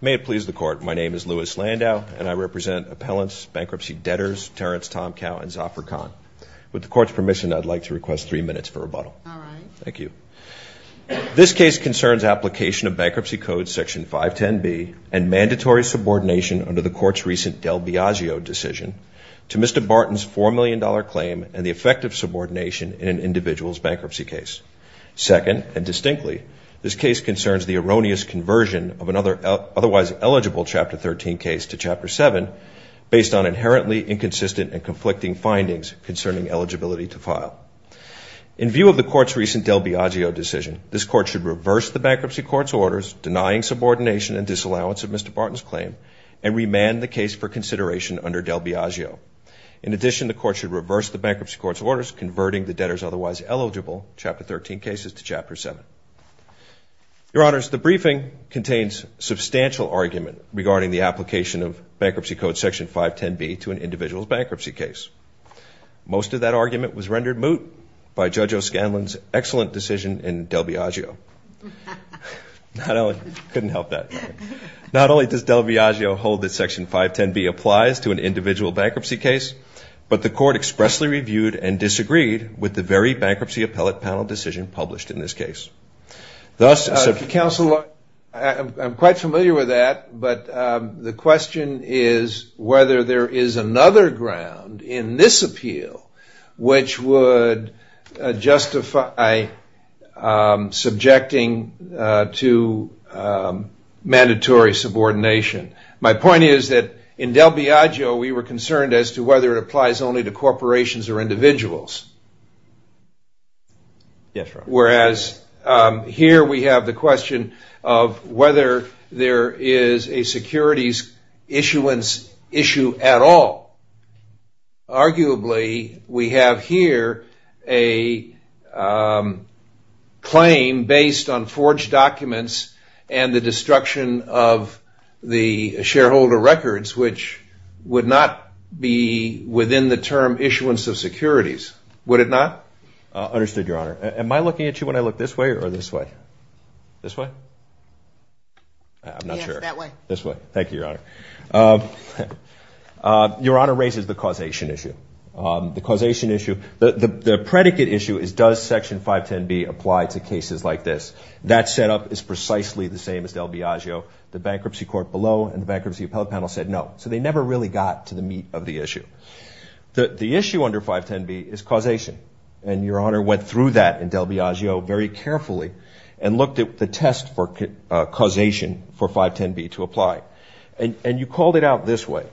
May it please the court, my name is Lewis Landau and I represent appellants, bankruptcy debtors, Terrence Tomcow and Zafar Khan. With the court's permission I'd like to request three minutes for rebuttal. Thank you. This case concerns application of Bankruptcy Code Section 510B and mandatory subordination under the court's recent Del Biagio decision to Mr. Barton's four million dollar claim and the effect of subordination in an individual's bankruptcy case. Second and distinctly, this case concerns the erroneous conversion of another otherwise eligible Chapter 13 case to Chapter 7 based on inherently inconsistent and conflicting findings concerning eligibility to file. In view of the court's recent Del Biagio decision, this court should reverse the Bankruptcy Court's orders denying subordination and disallowance of Mr. Barton's claim and remand the case for consideration under Del Biagio. In addition, the court should reverse the Bankruptcy Court's orders converting the case to Chapter 7. Your Honors, the briefing contains substantial argument regarding the application of Bankruptcy Code Section 510B to an individual's bankruptcy case. Most of that argument was rendered moot by Judge O'Scanlan's excellent decision in Del Biagio. Not only does Del Biagio hold that Section 510B applies to an individual bankruptcy case, but the court expressly reviewed and disagreed with the very Bankruptcy Appellate Panel decision published in this case. Counselor, I'm quite familiar with that, but the question is whether there is another ground in this appeal which would justify subjecting to mandatory subordination. My point is that in Del Biagio we were concerned as to whether it applies only to corporations or whereas here we have the question of whether there is a securities issuance issue at all. Arguably, we have here a claim based on forged documents and the destruction of the shareholder records which would not be within the term would it not? Understood, Your Honor. Am I looking at you when I look this way or this way? This way? I'm not sure. This way. Thank you, Your Honor. Your Honor raises the causation issue. The causation issue, the predicate issue is does Section 510B apply to cases like this? That setup is precisely the same as Del Biagio. The Bankruptcy Court below and the Bankruptcy Appellate Panel said no. So they never really got to the meat of the issue. The issue under 510B is causation and Your Honor went through that in Del Biagio very carefully and looked at the test for causation for 510B to apply and you called it out this way.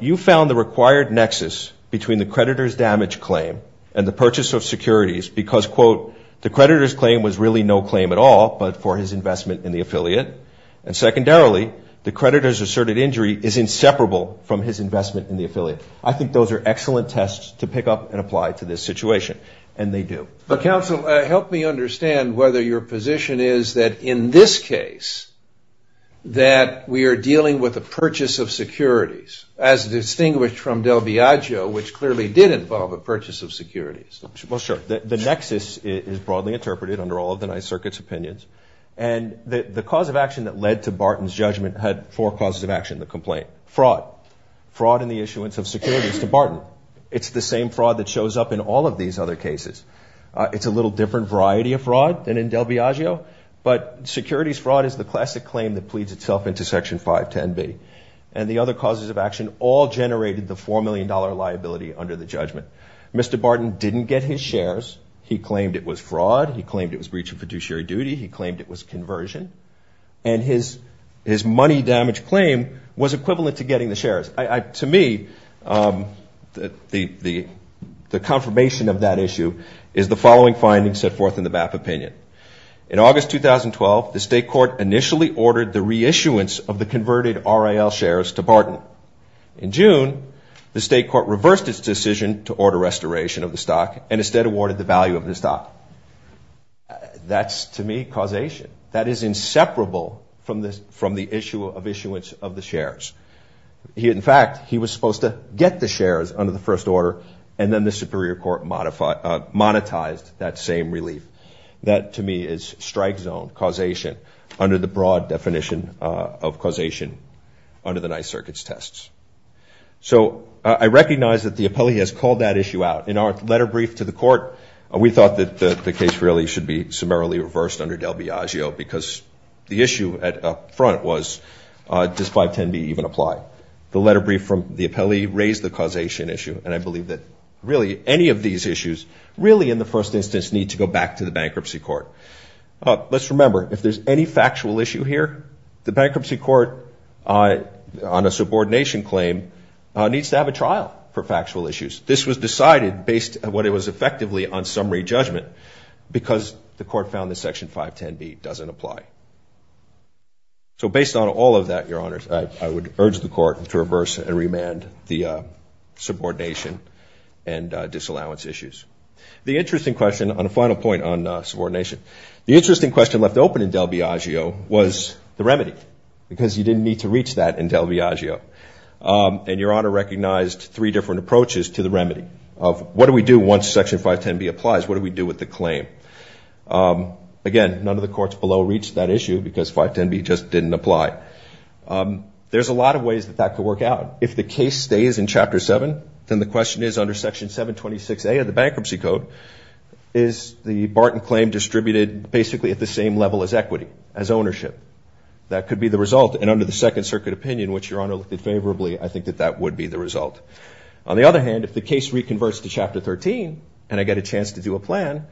You found the required nexus between the creditor's damage claim and the purchase of securities because quote the creditor's claim was really no claim at all but for his investment in the affiliate and secondarily the creditor's asserted injury is inseparable from his investment in the affiliate. I think those are excellent tests to pick up and apply to this situation and they do. Counsel, help me understand whether your position is that in this case that we are dealing with a purchase of securities as distinguished from Del Biagio which clearly did involve a purchase of securities. Well, sure. The nexus is broadly interpreted under all of the Ninth Circuit's opinions and the cause of action that led to Barton's judgment had four causes of action in the complaint. Fraud. Fraud in the issuance of securities to Barton. It's the same fraud that shows up in all of these other cases. It's a little different variety of fraud than in Del Biagio but securities fraud is the classic claim that pleads itself into Section 510B and the other causes of action all generated the four million dollar liability under the judgment. Mr. Barton didn't get his shares. He claimed it was fraud. He claimed it was breach of his money damage claim was equivalent to getting the shares. To me, the confirmation of that issue is the following findings set forth in the BAP opinion. In August 2012, the state court initially ordered the reissuance of the converted RAL shares to Barton. In June, the state court reversed its decision to order restoration of the stock and instead awarded the value of the stock. That's to me causation. That is inseparable from the issue of issuance of the shares. In fact, he was supposed to get the shares under the first order and then the Superior Court monetized that same relief. That to me is strike zone causation under the broad definition of causation under the Ninth Circuit's tests. So I recognize that the appellee has called that issue out. In our letter brief to the court, we thought that the case really should be summarily reversed under del Biagio because the issue at up front was does 510B even apply? The letter brief from the appellee raised the causation issue and I believe that really any of these issues really in the first instance need to go back to the bankruptcy court. Let's remember, if there's any factual issue here, the bankruptcy court on a subordination claim needs to have a summary judgment because the court found that Section 510B doesn't apply. So based on all of that, Your Honors, I would urge the court to reverse and remand the subordination and disallowance issues. The interesting question on a final point on subordination. The interesting question left open in del Biagio was the remedy because you didn't need to reach that in del Biagio and Your Honor recognized three different approaches to the remedy of what do we do once Section 510B applies? What do we do with the claim? Again, none of the courts below reached that issue because 510B just didn't apply. There's a lot of ways that that could work out. If the case stays in Chapter 7, then the question is under Section 726A of the Bankruptcy Code, is the Barton claim distributed basically at the same level as equity, as ownership? That could be the result and under the Second Circuit opinion, which Your Honor looked at favorably, I think that that would be the result. On the other hand, if the case reconverts to Chapter 13 and I get a chance to do a plan,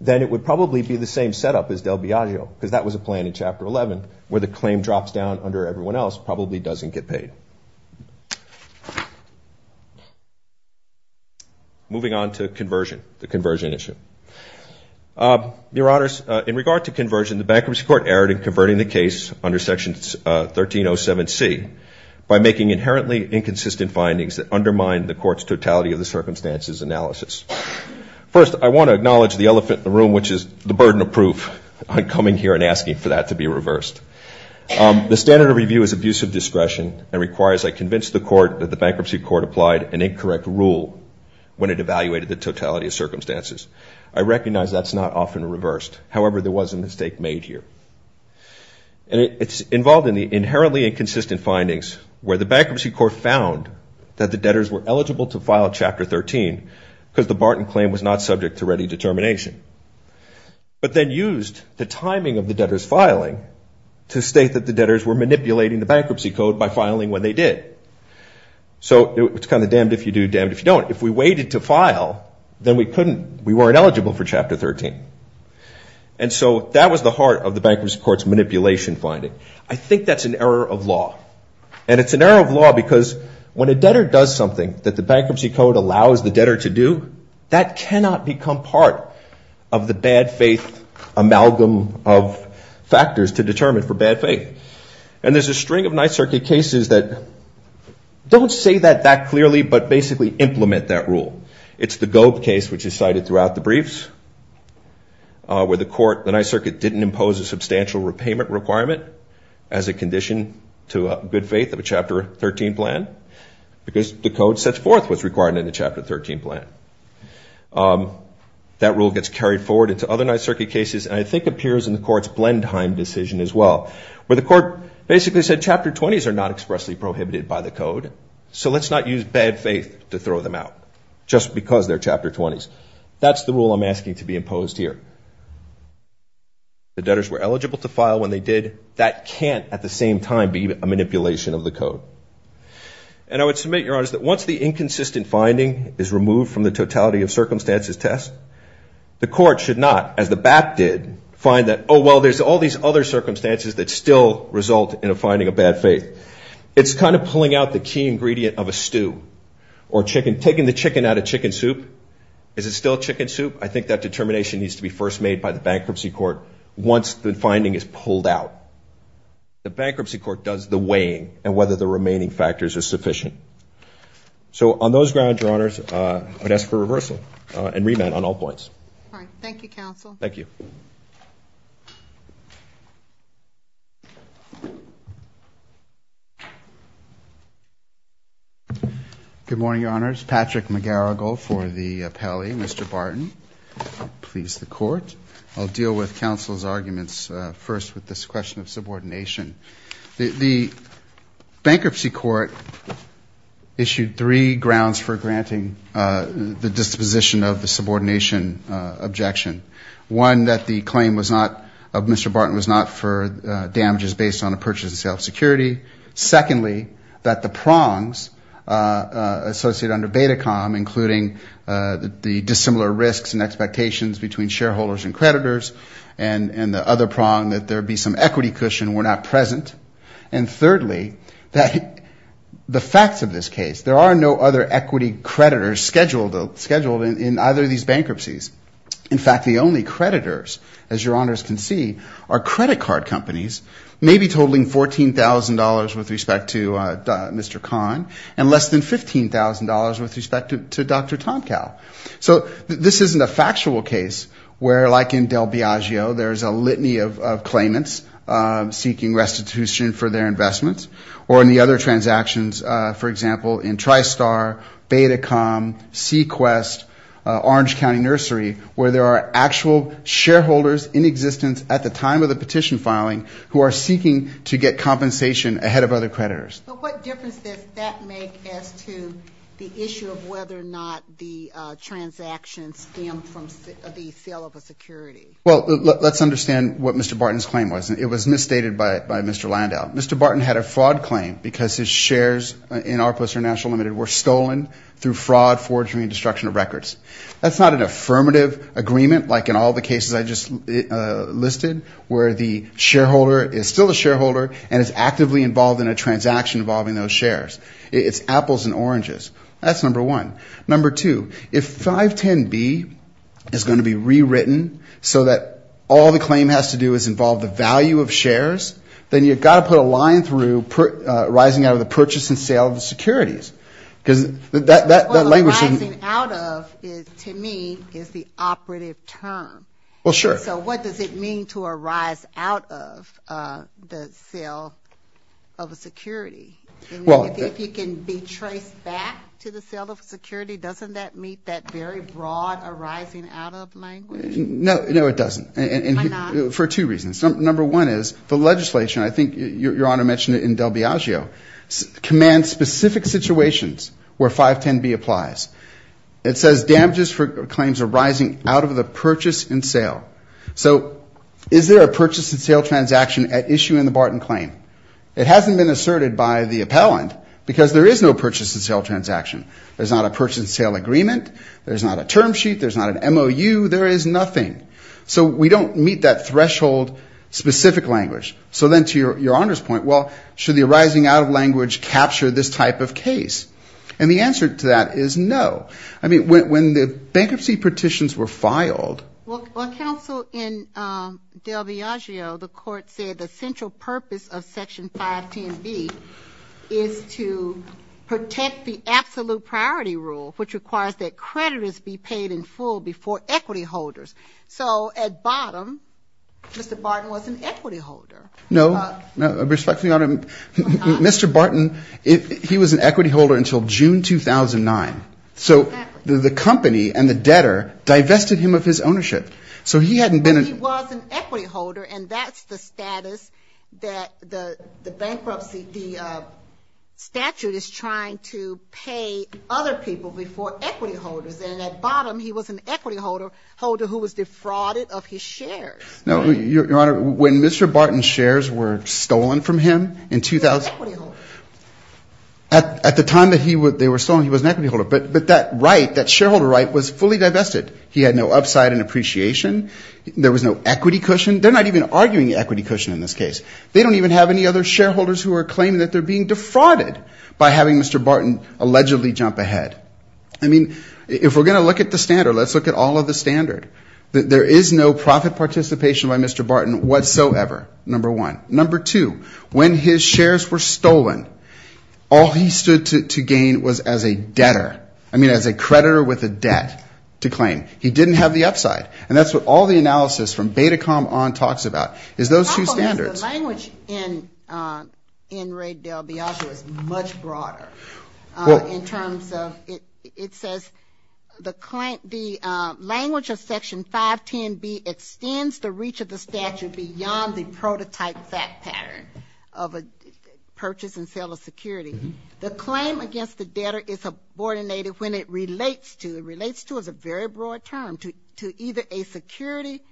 then it would probably be the same setup as del Biagio because that was a plan in Chapter 11 where the claim drops down under everyone else, probably doesn't get paid. Moving on to conversion, the conversion issue. Your Honors, in regard to conversion, the Bankruptcy Court erred in converting the case under Section 1307C by making inherently inconsistent findings that undermine the court's totality of the circumstances analysis. First, I want to acknowledge the elephant in the room, which is the burden of proof. I'm coming here and asking for that to be reversed. The standard of review is abuse of discretion and requires I convince the court that the Bankruptcy Court applied an incorrect rule when it evaluated the totality of circumstances. I recognize that's not often reversed. However, there was a mistake made here and it's involved in the inherently inconsistent findings where the Bankruptcy Court found that the debtors were eligible to file Chapter 13 because the Barton claim was not subject to ready determination, but then used the timing of the debtors filing to state that the debtors were manipulating the Bankruptcy Code by filing when they did. So it's kind of damned if you do, damned if you don't. If we waited to file, then we couldn't, we weren't eligible for Chapter 13. And so that was the heart of the Bankruptcy Court's manipulation finding. I think that's an error of law and it's an error of law because when a debtor does something that the Bankruptcy Code allows the debtor to do, that cannot become part of the bad faith amalgam of factors to determine for bad faith. And there's a string of Ninth Circuit cases that don't say that that clearly, but basically implement that rule. It's the Gobe case, which is cited throughout the briefs, where the court, the Ninth Circuit didn't impose a substantial repayment requirement as a condition to good faith of a Chapter 13 plan because the Code sets forth what's required in a Chapter 13 plan. That rule gets carried forward into other Ninth Circuit cases and I think appears in the court's Blendheim decision as well, where the court basically said Chapter 20s are not expressly prohibited by the Code, so let's not use bad faith to throw them out just because they're Chapter 20s. That's the rule I'm asking to be imposed here. The debtors were to, at the same time, be a manipulation of the Code. And I would submit, Your Honor, that once the inconsistent finding is removed from the totality of circumstances test, the court should not, as the BAP did, find that, oh well, there's all these other circumstances that still result in a finding of bad faith. It's kind of pulling out the key ingredient of a stew or chicken, taking the chicken out of chicken soup. Is it still chicken soup? I think that determination needs to be first made by the Bankruptcy Court once the finding is made, and then the Bankruptcy Court does the weighing and whether the remaining factors are sufficient. So on those grounds, Your Honors, I would ask for reversal and remand on all points. All right. Thank you, counsel. Thank you. Good morning, Your Honors. Patrick McGarrigle for the appellee. Mr. Barton, please the court. I'll deal with counsel's arguments first with this question of the Bankruptcy Court issued three grounds for granting the disposition of the subordination objection. One, that the claim was not, of Mr. Barton, was not for damages based on a purchase and sale of security. Secondly, that the prongs associated under Betacom, including the dissimilar risks and expectations between shareholders and creditors, and the other prong that there be some equity cushion were not present. And thirdly, that the facts of this case, there are no other equity creditors scheduled in either of these bankruptcies. In fact, the only creditors, as Your Honors can see, are credit card companies, maybe totaling $14,000 with respect to Mr. Kahn and less than $15,000 with respect to Dr. Tomcow. So this isn't a factual case where like in seeking restitution for their investments or any other transactions, for example, in Tristar, Betacom, Sequest, Orange County Nursery, where there are actual shareholders in existence at the time of the petition filing who are seeking to get compensation ahead of other creditors. But what difference does that make as to the issue of whether or not the transaction stemmed from the Well, let's understand what Mr. Barton's claim was. It was misstated by Mr. Landau. Mr. Barton had a fraud claim because his shares in ARPA International Limited were stolen through fraud, forgery, and destruction of records. That's not an affirmative agreement like in all the cases I just listed, where the shareholder is still a shareholder and is actively involved in a transaction involving those shares. It's apples and oranges. That's number one. Number two, if 510B is going to be rewritten so that all the claim has to do is involve the value of shares, then you've got to put a line through rising out of the purchase and sale of the securities. Because that language shouldn't... Well, rising out of, to me, is the operative term. Well, sure. So what does it mean to arise out of the sale of a security? Well... If you can be traced back to the sale of a security, doesn't that meet that very broad arising out of language? No, it doesn't. Why not? For two reasons. Number one is, the legislation, I think Your Honor mentioned it in Del Biagio, commands specific situations where 510B applies. It says damages for claims arising out of the purchase and sale. So, is there a purchase and sale transaction at issue in the Barton claim? It hasn't been asserted by the appellant because there is no purchase and sale transaction. There's not a purchase and sale agreement. There's not a term sheet. There's not an MOU. There is nothing. So we don't meet that threshold specific language. So then to Your Honor's point, well, should the arising out of language capture this type of case? And the answer to that is no. I mean, when the bankruptcy petitions were filed... Well, counsel, in Del Biagio, the court said the central purpose of absolute priority rule, which requires that creditors be paid in full before equity holders. So at bottom, Mr. Barton was an equity holder. No. Respectfully Your Honor, Mr. Barton, he was an equity holder until June 2009. So the company and the debtor divested him of his ownership. So he hadn't been... He was an equity holder and that's the status that the bankruptcy, the bankruptcy petition is to pay other people before equity holders. And at bottom, he was an equity holder who was defrauded of his shares. No. Your Honor, when Mr. Barton's shares were stolen from him in 2000... He was an equity holder. At the time that they were stolen, he was an equity holder. But that right, that shareholder right was fully divested. He had no upside in appreciation. There was no equity cushion. They're not even arguing equity cushion in this case. They don't even have any other shareholders who are being defrauded by having Mr. Barton allegedly jump ahead. I mean, if we're going to look at the standard, let's look at all of the standard. There is no profit participation by Mr. Barton whatsoever, number one. Number two, when his shares were stolen, all he stood to gain was as a debtor. I mean, as a creditor with a debt to claim. He didn't have the upside. And that's what all the analysis from Betacom on talks about is those two standards. The language in Raid del Biasco is much broader in terms of, it says, the language of Section 510B extends the reach of the statute beyond the prototype fact pattern of a purchase and sale of security. The claim against the debtor is abortionated when it relates to, it relates to is a very broad term, to either a security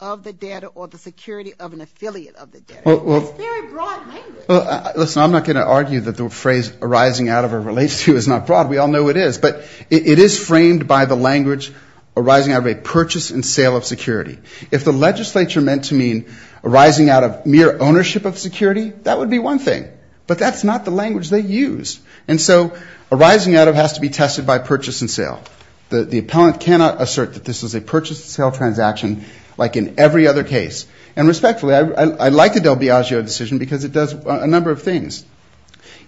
of the debtor or the security of an affiliate of the debtor. It's a very broad language. Well, listen, I'm not going to argue that the phrase arising out of or relates to is not broad. We all know it is. But it is framed by the language arising out of a purchase and sale of security. If the legislature meant to mean arising out of mere ownership of security, that would be one thing. But that's not the language they used. And so arising out of has to be tested by purchase and sale. The appellant cannot assert that this is a case. And respectfully, I like the del Biasco decision because it does a number of things.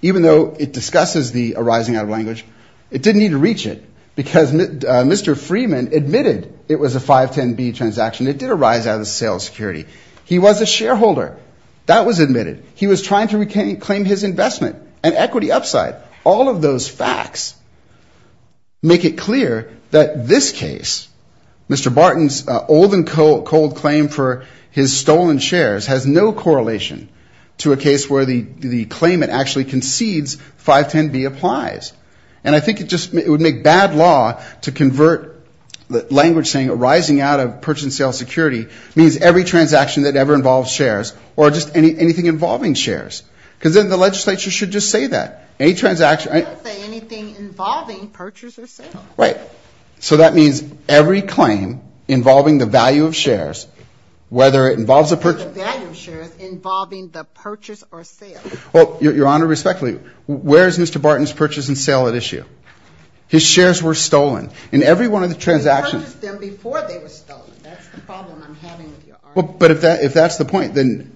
Even though it discusses the arising out of language, it didn't need to reach it because Mr. Freeman admitted it was a 510B transaction. It did arise out of the sale of security. He was a shareholder. That was admitted. He was trying to reclaim his investment and equity upside. All of those facts make it clear that this case, Mr. Barton's old and cold claim for his stolen shares has no correlation to a case where the claimant actually concedes 510B applies. And I think it just would make bad law to convert the language saying arising out of purchase and sale of security means every transaction that ever involves shares or just anything involving shares. Because then the legislature should just say that. Any transaction. They don't say anything involving purchase or sale. Right. So that means every claim involving the value of shares, whether it involves a purchase. The value of shares involving the purchase or sale. Well, Your Honor, respectfully, where is Mr. Barton's purchase and sale at issue? His shares were stolen in every one of the transactions. He purchased them before they were stolen. That's the problem I'm having with your argument. But if that's the point, then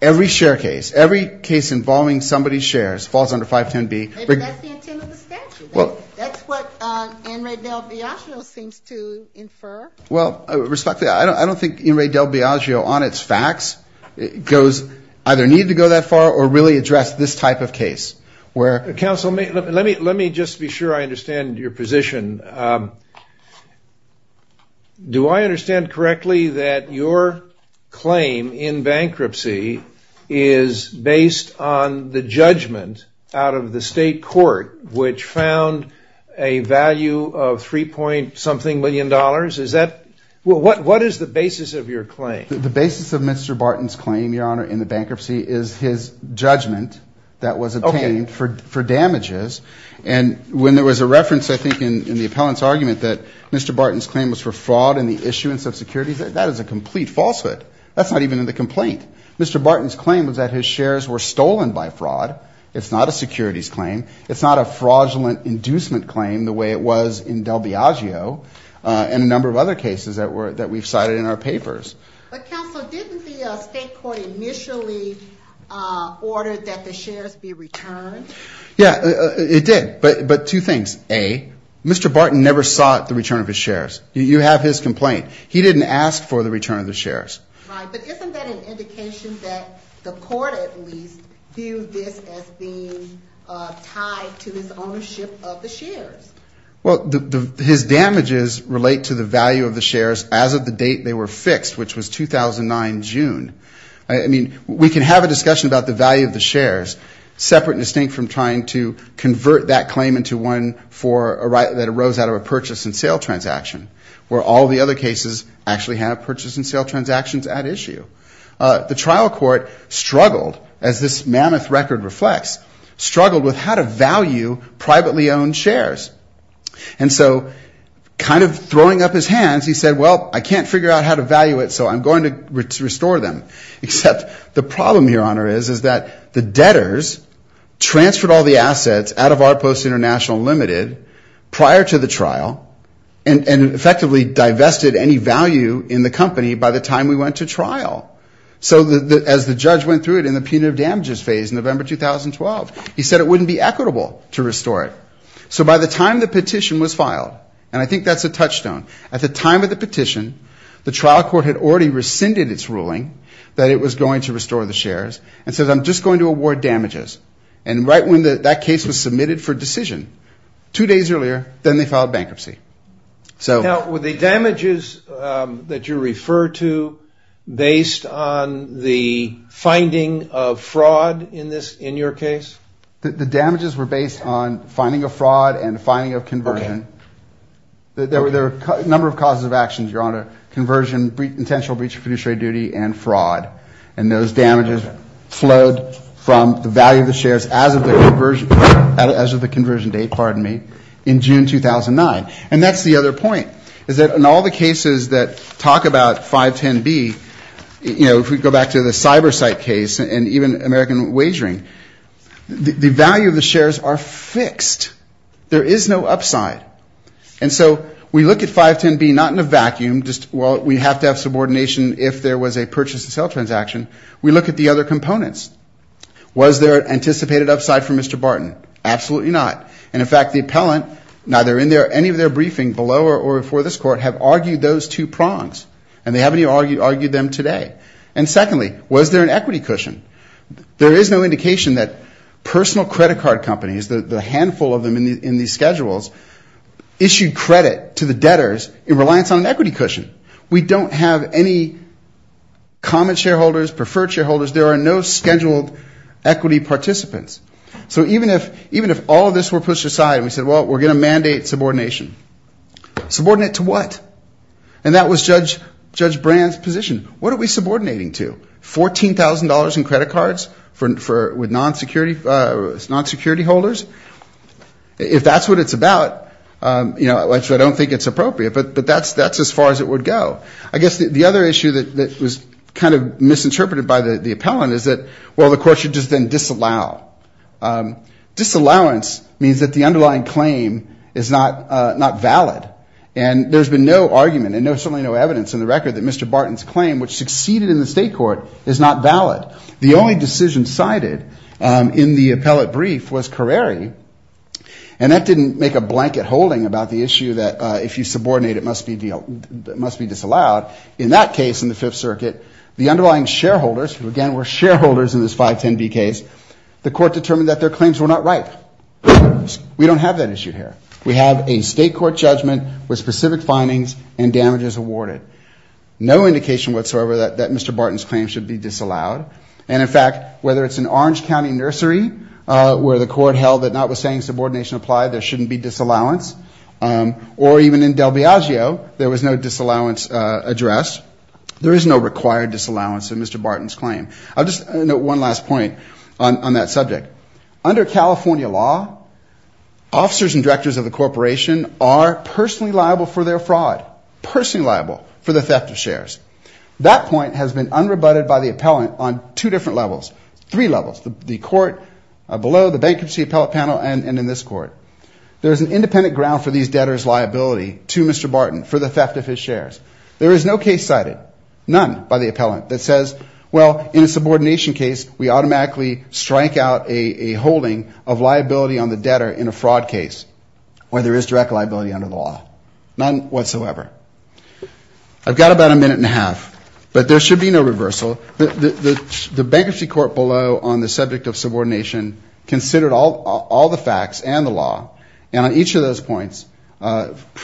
every share case, every case involving somebody's shares falls under 510B. Maybe that's the intent of the statute. That's what In re del Biagio seems to infer. Well, respectfully, I don't think In re del Biagio on its facts goes either need to go that far or really address this type of case. Counsel, let me just be sure I understand your position. Do I understand correctly that your claim in bankruptcy is based on the judgment out of the state court which found a value of 3 point something million dollars? What is the basis of your claim? The basis of Mr. Barton's claim, Your Honor, in the bankruptcy is his judgment that was obtained for damages. And when there was a reference, I think, in the appellant's argument that Mr. Barton's claim was for fraud in the issuance of securities, that is a complete falsehood. That's not even in the complaint. Mr. Barton's claim was that his shares were stolen by fraud. It's not a securities claim. It's not a fraudulent inducement claim the way it was in del Biagio and a number of other cases that we've cited in our papers. But, Counsel, didn't the state court initially order that the shares be returned? Yeah, it did. But two things. A. Mr. Barton never sought the return of his shares. You have his complaint. He didn't ask for the return of the shares. Right, but isn't that an indication that the court at least viewed this as being tied to his ownership of the shares? Well, his damages relate to the value of the shares as of the date they were fixed, which was 2009 June. I mean, we can have a discussion about the value of the shares separate and distinct from trying to convert that claim into one that arose out of a purchase and sale transaction, where all the other cases actually had a purchase and sale transaction at issue. The trial court struggled, as this mammoth record reflects, struggled with how to value privately owned shares. And so, kind of throwing up his hands, he said, well, I can't figure out how to value it, so I'm going to restore them. Except the problem here, Honor, is that the debtors transferred all the assets out of ARPOS International Limited prior to the trial and effectively divested any value in the company by the time we went to trial. So as the judge went through it in the punitive damages phase in November 2012, he said it wouldn't be equitable to restore it. So by the time the petition was filed, and I think that's a touchstone, at the time of the petition, the trial court had already rescinded its ruling that it was going to restore the shares and said, I'm just going to award damages. And right when that case was filed, two days earlier, then they filed bankruptcy. Were the damages that you refer to based on the finding of fraud in your case? The damages were based on finding of fraud and finding of conversion. There were a number of causes of actions, Your Honor. Conversion, intentional breach of fiduciary duty, and fraud. And those damages flowed from the value of the shares as of the conversion date, pardon me, in June 2009. And that's the other point, is that in all the cases that talk about 510B, you know, if we go back to the CyberSite case and even American Wagering, the value of the shares are fixed. There is no upside. And so we look at 510B not in a vacuum, just, well, we have to have subordination if there was a purchase and sell transaction. We look at the other components. Was there an anticipated upside for Mr. And in fact, the appellant, neither in their or any of their briefing below or before this court have argued those two prongs. And they haven't even argued them today. And secondly, was there an equity cushion? There is no indication that personal credit card companies, the handful of them in these schedules, issued credit to the debtors in reliance on an equity cushion. We don't have any common shareholders, preferred shareholders. There are no scheduled equity participants. So even if all of this were pushed aside and we said, well, we're going to mandate subordination. Subordinate to what? And that was Judge Brand's position. What are we subordinating to? $14,000 in credit cards with non-security holders? If that's what it's about, I don't think it's appropriate, but that's as far as it would go. I guess the other issue that was kind of misinterpreted by the appellant is that, well, the court should just then disallow. Disallowance means that the underlying claim is not valid. And there's been no argument and certainly no evidence in the record that Mr. Barton's claim, which succeeded in the state court, is not valid. The only decision cited in the appellate brief was Careri. And that didn't make a blanket holding about the issue that if you subordinate it must be disallowed. In that case in the Fifth Circuit, the underlying shareholders, who again were shareholders in this 510B case, the court determined that their claims were not right. We don't have that issue here. We have a state court judgment with specific findings and damages awarded. No indication whatsoever that Mr. Barton's claim should be disallowed. And in fact, whether it's an Orange County nursery where the court held that notwithstanding subordination applied, there shouldn't be disallowance. Or even in Del Viaggio, there was no disallowance addressed. There is no required disallowance in Mr. Barton's claim. One last point on that subject. Under California law, officers and directors of the corporation are personally liable for their fraud. Personally liable for the theft of shares. That point has been unrebutted by the appellant on two different levels. Three levels. The court below, the bankruptcy appellate panel, and in this court. There's an independent ground for these debtors' liability to Mr. Barton for the theft of his shares. There is no case cited. None by the appellant that says well, in a subordination case, we automatically strike out a holding of liability on the debtor in a fraud case. Where there is direct liability under the law. None whatsoever. I've got about a minute and a half, but there should be no reversal. The bankruptcy court below on the subject of subordination considered all the facts and the law, and on each of those points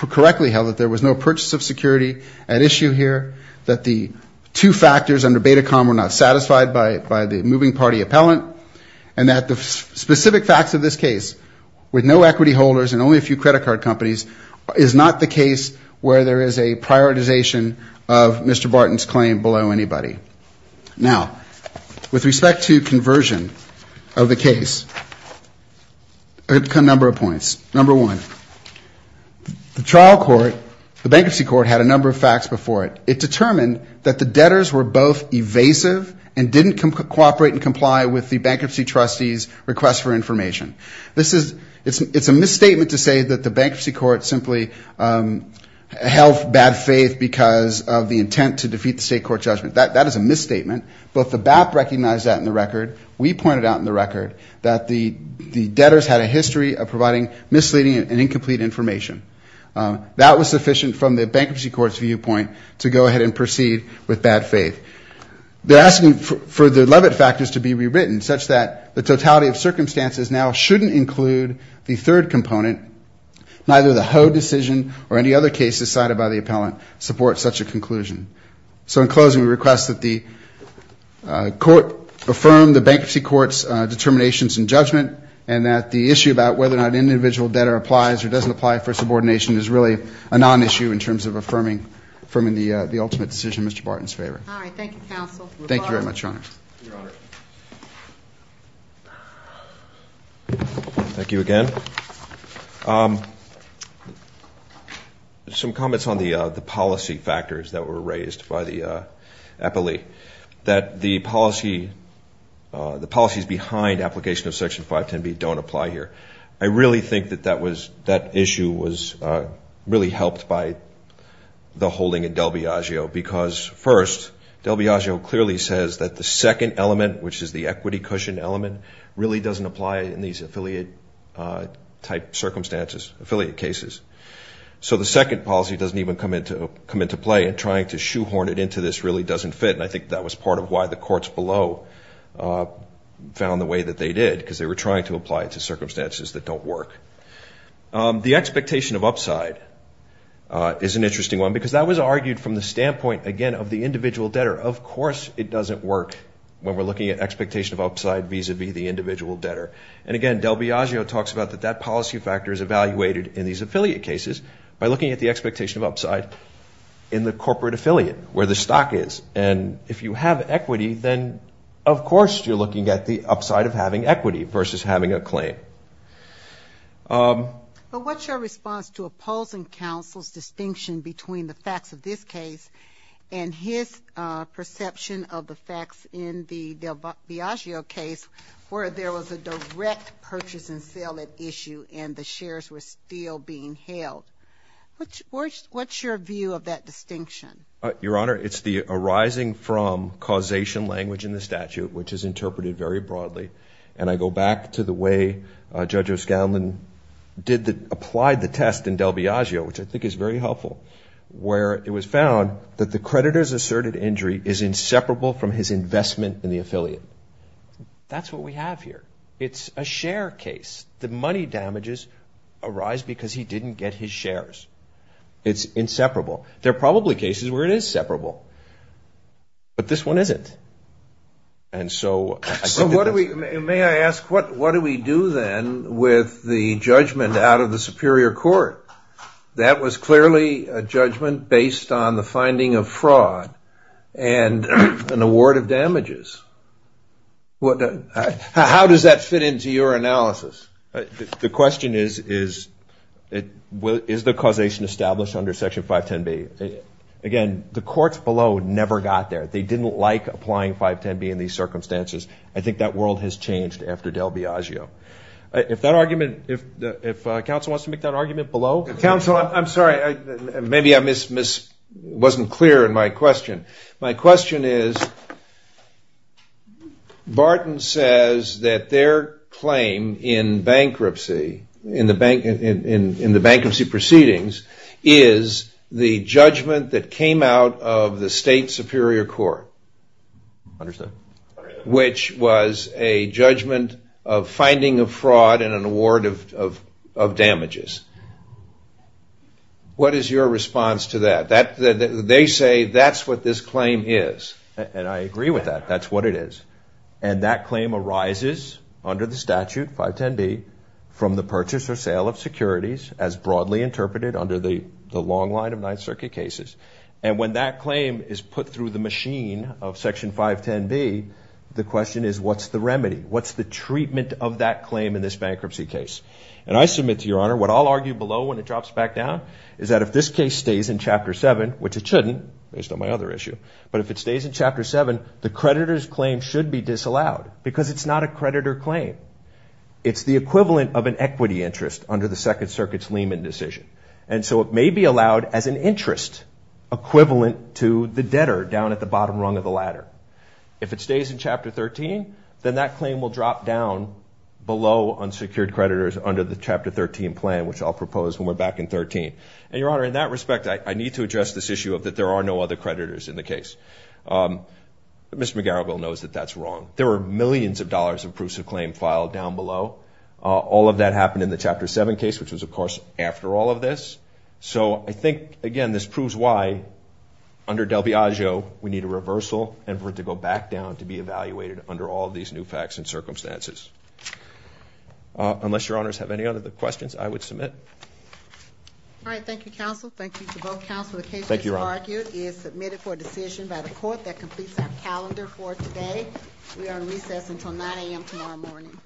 correctly held that there was no purchase of security at issue here. That the two factors under Betacom were not satisfied by the moving party appellant. And that the specific facts of this case with no equity holders and only a few credit card companies is not the case where there is a prioritization of Mr. Barton's claim below anybody. Now, with respect to conversion of the case, a number of points. Number one, the trial court, the bankruptcy court had a number of facts before it. It determined that the debtors were both evasive and didn't cooperate and comply with the bankruptcy trustee's request for information. This is, it's a misstatement to say that the bankruptcy court simply held bad faith because of the intent to defeat the state court judgment. That is a misstatement. Both the BAP recognized that in the record. We pointed out in the record that the misleading and incomplete information. That was sufficient from the bankruptcy court's viewpoint to go ahead and proceed with bad faith. They're asking for the Leavitt factors to be rewritten such that the totality of circumstances now shouldn't include the third component neither the Ho decision or any other cases cited by the appellant support such a conclusion. So in closing, we request that the court affirm the bankruptcy court's determinations and judgment and that the issue about whether or not an individual debtor applies or doesn't apply for subordination is really a non-issue in terms of affirming the ultimate decision. Mr. Barton's favor. Thank you counsel. Thank you very much, your honor. Thank you again. Some comments on the policy factors that were raised by the appellee. That the policy the policies behind application of Section 510B don't apply here. I really think that that issue was really helped by the holding in Del Biagio because first, Del Biagio clearly says that the second element, which is the equity cushion element, really doesn't apply in these affiliate type circumstances, affiliate cases. So the second policy doesn't even come into play and trying to shoehorn it into this really doesn't fit and I think that was part of why the courts below found the way that they did because they were trying to apply it to circumstances that don't work. The expectation of upside is an interesting one because that was argued from the standpoint, again, of the individual debtor. Of course it doesn't work when we're looking at expectation of upside vis-a-vis the individual debtor and again, Del Biagio talks about that that policy factor is evaluated in these affiliate cases by looking at the expectation of upside in the corporate stock is and if you have equity, then of course you're looking at the upside of having equity versus having a claim. But what's your response to opposing counsel's distinction between the facts of this case and his perception of the facts in the Del Biagio case where there was a direct purchase and sale issue and the shares were still being held? What's your view of that arising from causation language in the statute, which is interpreted very broadly and I go back to the way Judge O'Scanlan applied the test in Del Biagio, which I think is very helpful where it was found that the creditor's asserted injury is inseparable from his investment in the affiliate. That's what we have here. It's a share case. The money damages arise because he didn't get his shares. It's inseparable. There are probably cases where it is separable, but this one isn't. May I ask what do we do then with the judgment out of the Superior Court? That was clearly a judgment based on the finding of fraud and an award of damages. How does that fit into your analysis? The question is, is the again, the courts below never got there. They didn't like applying 510B in these circumstances. I think that world has changed after Del Biagio. If that argument, if counsel wants to make that argument below. Counsel, I'm sorry. Maybe I wasn't clear in my question. My question is Barton says that their claim in bankruptcy, in the bankruptcy proceedings is the judgment that came out of the State Superior Court, which was a judgment of finding of fraud and an award of damages. What is your response to that? They say that's what this claim is. And I agree with that. That's what it is. And that claim arises under the statute, 510B, from the purchase or sale of under the long line of Ninth Circuit cases. And when that claim is put through the machine of Section 510B, the question is what's the remedy? What's the treatment of that claim in this bankruptcy case? And I submit to your honor, what I'll argue below when it drops back down, is that if this case stays in Chapter 7, which it shouldn't, based on my other issue, but if it stays in Chapter 7, the creditor's claim should be disallowed. Because it's not a creditor claim. It's the equivalent of an equity interest under the Chapter 13. And so it may be allowed as an interest, equivalent to the debtor down at the bottom rung of the ladder. If it stays in Chapter 13, then that claim will drop down below unsecured creditors under the Chapter 13 plan, which I'll propose when we're back in 13. And your honor, in that respect, I need to address this issue of that there are no other creditors in the case. Mr. McGarrigle knows that that's wrong. There are millions of dollars of proofs of claim filed down below. All of that happened in the Chapter 7 case, which was, of course, after all of this. So I think, again, this proves why, under Del Viaggio, we need a reversal and for it to go back down to be evaluated under all of these new facts and circumstances. Unless your honors have any other questions, I would submit. All right. Thank you, counsel. Thank you to both counsel. The case, as argued, is submitted for decision by the court that completes our calendar for today. We are on recess until 9 a.m. tomorrow morning. Thank you all.